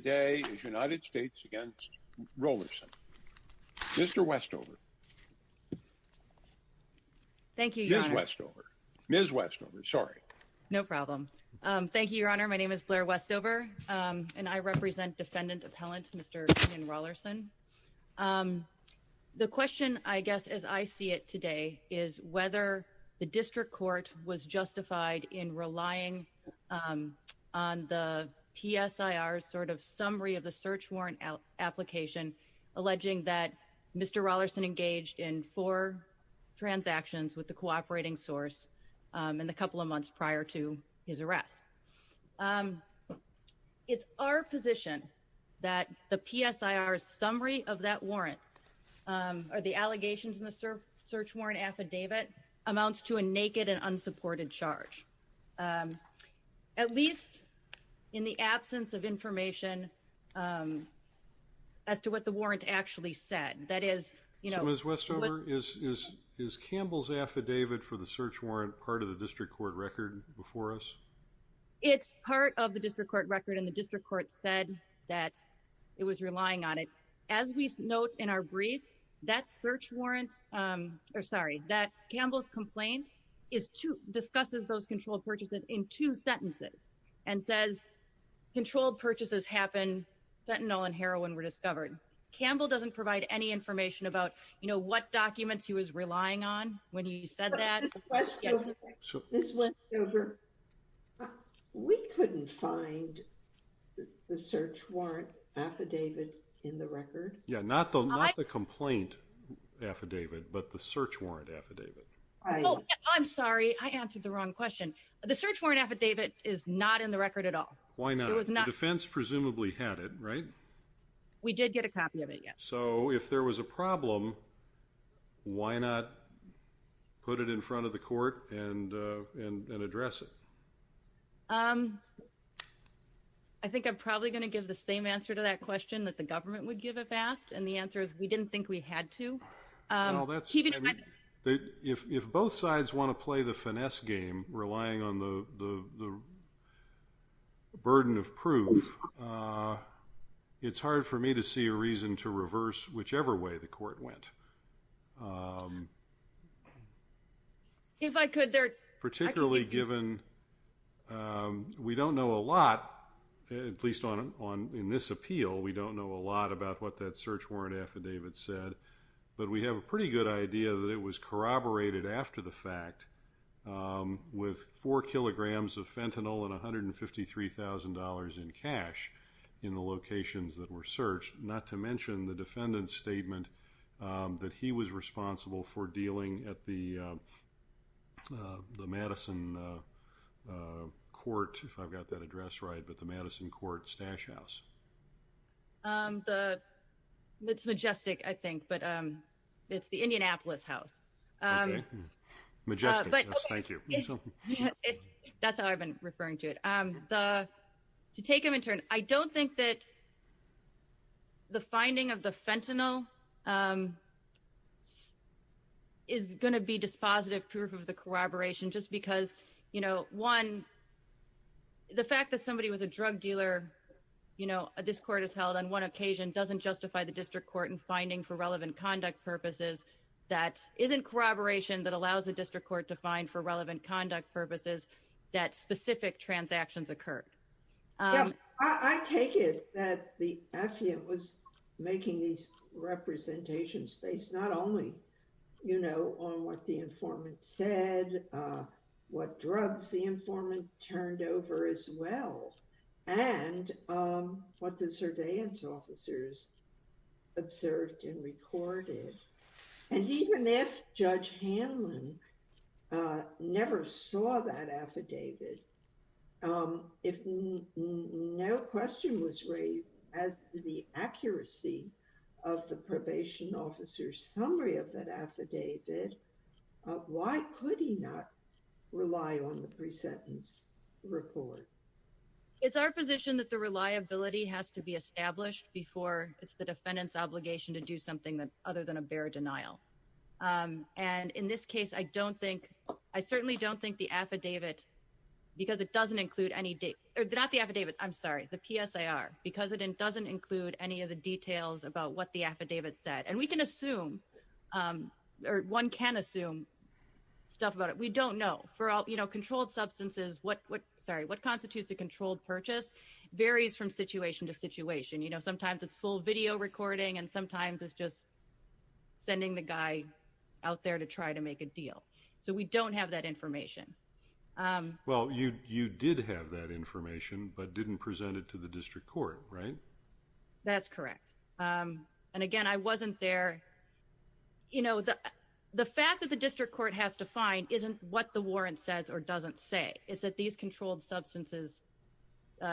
Mr. Westover. Ms. Westover. Ms. Westover. Sorry. No problem. Thank you, your honor. My name is Blair Westover. I represent defendant appellant Mr. Keenan Rollerson. The question I guess as I see it today is whether the district court was justified in relying on the PSIR sort of subpoena. The PSIR's summary of the search warrant application alleging that Mr. Rollerson engaged in four transactions with the cooperating source in the couple of months prior to his arrest. It's our position that the PSIR's summary of that warrant or the allegations in the search warrant affidavit amounts to a naked and unsupported charge. At least in the absence of information as to what the warrant actually said. Ms. Westover, is Campbell's affidavit for the search warrant part of the district court record before us? It's part of the district court record and the district court said that it was relying on it. As we note in our brief, that search warrant, or sorry, that Campbell's complaint discusses those controlled purchases in two sentences. And says controlled purchases happen, fentanyl and heroin were discovered. Campbell doesn't provide any information about what documents he was relying on when he said that. Ms. Westover, we couldn't find the search warrant affidavit in the record. Yeah, not the complaint affidavit, but the search warrant affidavit. I'm sorry, I answered the wrong question. The search warrant affidavit is not in the record at all. Why not? The defense presumably had it, right? We did get a copy of it, yes. So if there was a problem, why not put it in front of the court and address it? I think I'm probably going to give the same answer to that question that the government would give if asked. And the answer is we didn't think we had to. If both sides want to play the finesse game, relying on the burden of proof, it's hard for me to see a reason to reverse whichever way the court went. Particularly given we don't know a lot, at least in this appeal, we don't know a lot about what that search warrant affidavit said. But we have a pretty good idea that it was corroborated after the fact with four kilograms of fentanyl and $153,000 in cash in the locations that were searched, not to mention the defendant's statement that he was responsible for dealing at the Madison Court, if I've got that address right, but the Madison Court Stash House. It's Majestic, I think, but it's the Indianapolis House. Majestic, yes, thank you. That's how I've been referring to it. To take them in turn, I don't think that the finding of the fentanyl is going to be dispositive proof of the corroboration just because the fact that somebody was a drug dealer, this court has held on one occasion, doesn't justify the district court in finding for relevant conduct purposes that isn't corroboration that allows the district court to find for relevant conduct purposes that specific transactions occurred. I take it that the affidavit was making these representations based not only on what the informant said, what drugs the informant turned over as well, and what the surveillance officers observed and recorded. And even if Judge Hanlon never saw that affidavit, if no question was raised as to the accuracy of the probation officer's summary of that affidavit, why could he not rely on the presentence report? It's our position that the reliability has to be established before it's the defendant's obligation to do something other than a bare denial. And in this case, I certainly don't think the PSIR, because it doesn't include any of the details about what the affidavit said. And one can assume stuff about it. We don't know. For controlled substances, what constitutes a controlled purchase varies from situation to situation. You know, sometimes it's full video recording, and sometimes it's just sending the guy out there to try to make a deal. So we don't have that information. Well, you did have that information, but didn't present it to the district court, right? That's correct. And again, I wasn't there. You know, the fact that the district court has to find isn't what the warrant says or doesn't say. It's that these controlled substances,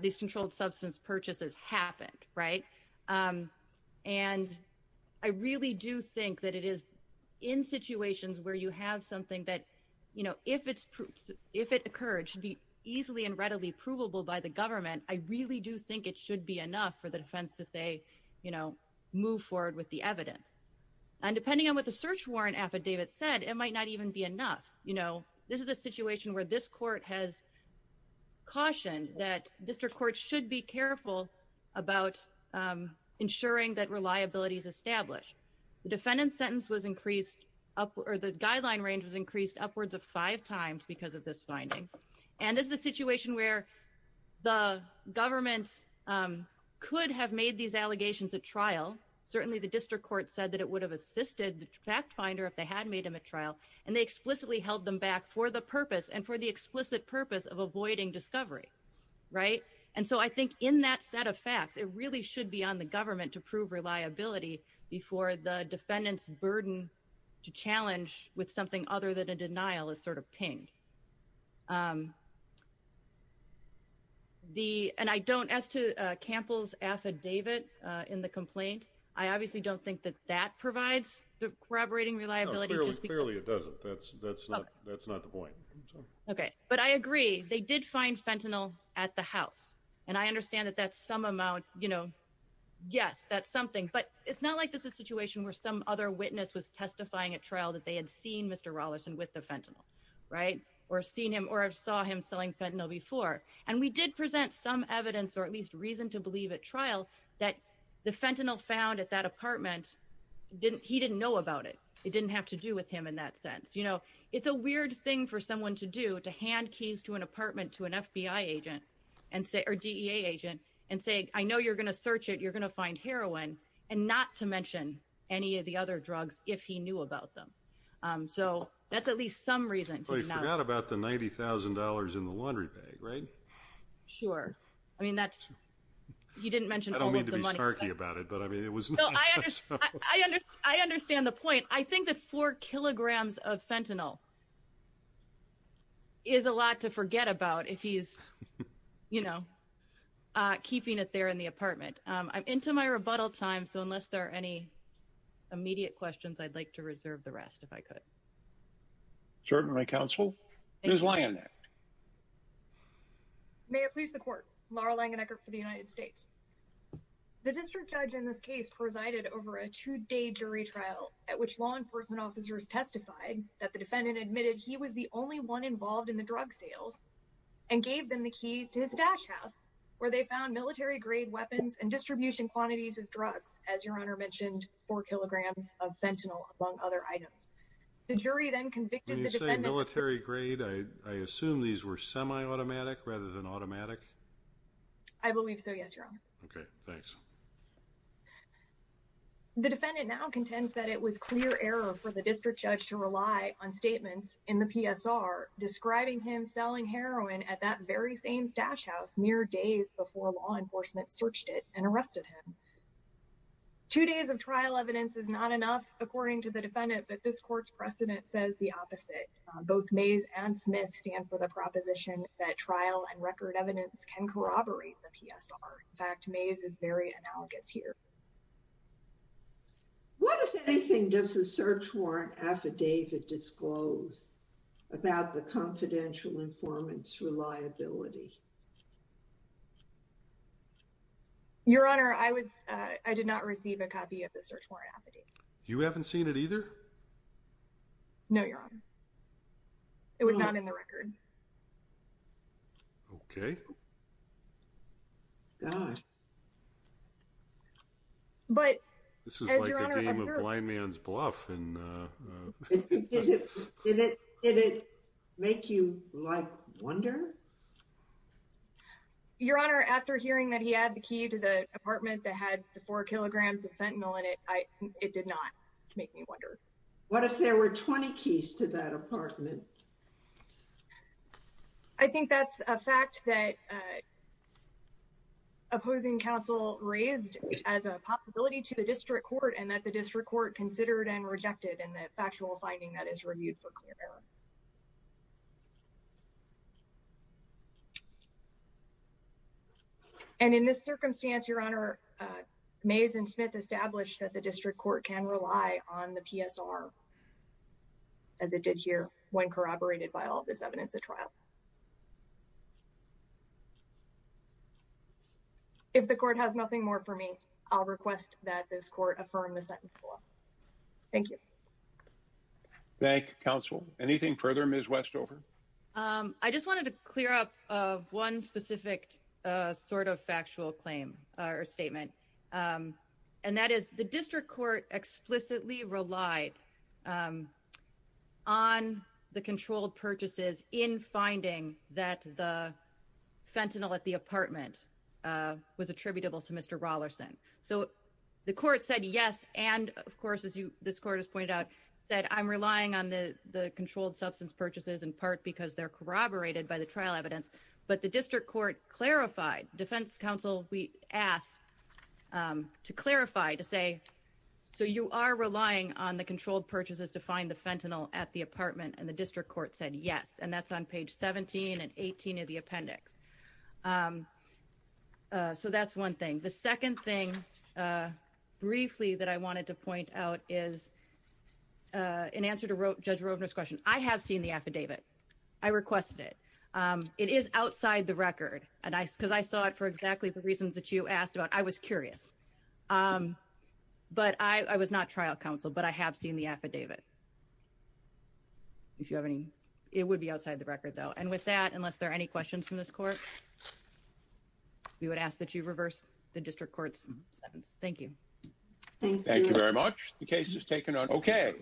these controlled substance purchases happened, right? And I really do think that it is in situations where you have something that, you know, if it occurred, should be easily and readily provable by the government. I really do think it should be enough for the defense to say, you know, move forward with the evidence. And depending on what the search warrant affidavit said, it might not even be enough. You know, this is a situation where this court has cautioned that district courts should be careful about ensuring that reliability is established. The defendant's sentence was increased, or the guideline range was increased upwards of five times because of this finding. And this is a situation where the government could have made these allegations at trial. Certainly the district court said that it would have assisted the fact finder if they had made them at trial. And they explicitly held them back for the purpose and for the explicit purpose of avoiding discovery, right? And so I think in that set of facts, it really should be on the government to prove reliability before the defendant's burden to challenge with something other than a denial is sort of pinged. The and I don't ask to Campbell's affidavit in the complaint. I obviously don't think that that provides corroborating reliability. Clearly, it doesn't. That's that's that's not the point. OK, but I agree. They did find fentanyl at the house. And I understand that that's some amount, you know. Yes, that's something. But it's not like this is a situation where some other witness was testifying at trial that they had seen Mr. Allison with the fentanyl, right, or seen him or saw him selling fentanyl before. And we did present some evidence or at least reason to believe at trial that the fentanyl found at that apartment didn't he didn't know about it. It didn't have to do with him in that sense. You know, it's a weird thing for someone to do to hand keys to an apartment, to an FBI agent and say or DEA agent and say, I know you're going to search it. You're going to find heroin and not to mention any of the other drugs if he knew about them. So that's at least some reason to know about the ninety thousand dollars in the laundry bag. Right. Sure. I mean, that's you didn't mention. I don't mean to be snarky about it, but I mean, it was. I understand the point. I think that four kilograms of fentanyl. Is a lot to forget about if he's, you know, keeping it there in the apartment. I'm into my rebuttal time. So unless there are any immediate questions, I'd like to reserve the rest if I could. Certainly, my counsel is lying. May it please the court, Laura Langenkirch for the United States. The district judge in this case presided over a two day jury trial at which law enforcement officers testified that the defendant admitted he was the only one involved in the drug sales. And gave them the key to his dash house, where they found military grade weapons and distribution quantities of drugs. As your honor mentioned, four kilograms of fentanyl, among other items. The jury then convicted the military grade. I assume these were semi automatic rather than automatic. I believe so. Yes, your honor. Okay, thanks. The defendant now contends that it was clear error for the district judge to rely on statements in the PSR describing him selling heroin at that very same stash house mere days before law enforcement searched it and arrested him. Two days of trial evidence is not enough, according to the defendant, but this court's precedent says the opposite. Both maze and Smith stand for the proposition that trial and record evidence can corroborate the PSR. In fact, maze is very analogous here. What, if anything, does the search warrant affidavit disclose about the confidential informants reliability? Your honor, I was, I did not receive a copy of the search warrant affidavit. You haven't seen it either. No, your honor. It was not in the record. Okay. But this is like a game of blind man's bluff and Did it make you like wonder? Your honor, after hearing that he had the key to the apartment that had the four kilograms of fentanyl in it, it did not make me wonder. What if there were 20 keys to that apartment? I think that's a fact that. Opposing counsel raised as a possibility to the district court and that the district court considered and rejected and the factual finding that is reviewed for clear error. And in this circumstance, your honor, maze and Smith established that the district court can rely on the PSR. As it did here when corroborated by all this evidence at trial. If the court has nothing more for me, I'll request that this court affirm the sentence. Thank you. Thank counsel. Anything further, Ms. Westover. I just wanted to clear up one specific sort of factual claim or statement. And that is the district court explicitly relied. On the controlled purchases in finding that the fentanyl at the apartment was attributable to Mr. Rollerson. So, the court said, yes. And of course, as you this court has pointed out that I'm relying on the controlled substance purchases in part because they're corroborated by the trial evidence. But the district court clarified defense counsel. We asked to clarify to say. So, you are relying on the controlled purchases to find the fentanyl at the apartment and the district court said, yes. And that's on page 17 and 18 of the appendix. So, that's 1 thing. The 2nd thing briefly that I wanted to point out is. In answer to wrote Judge Roebner's question. I have seen the affidavit. I requested it. It is outside the record and I, because I saw it for exactly the reasons that you asked about. I was curious. But I was not trial counsel, but I have seen the affidavit. If you have any, it would be outside the record though. And with that, unless there are any questions from this court. We would ask that you reverse the district court's sentence. Thank you. Thank you very much. The case is taken on. Okay.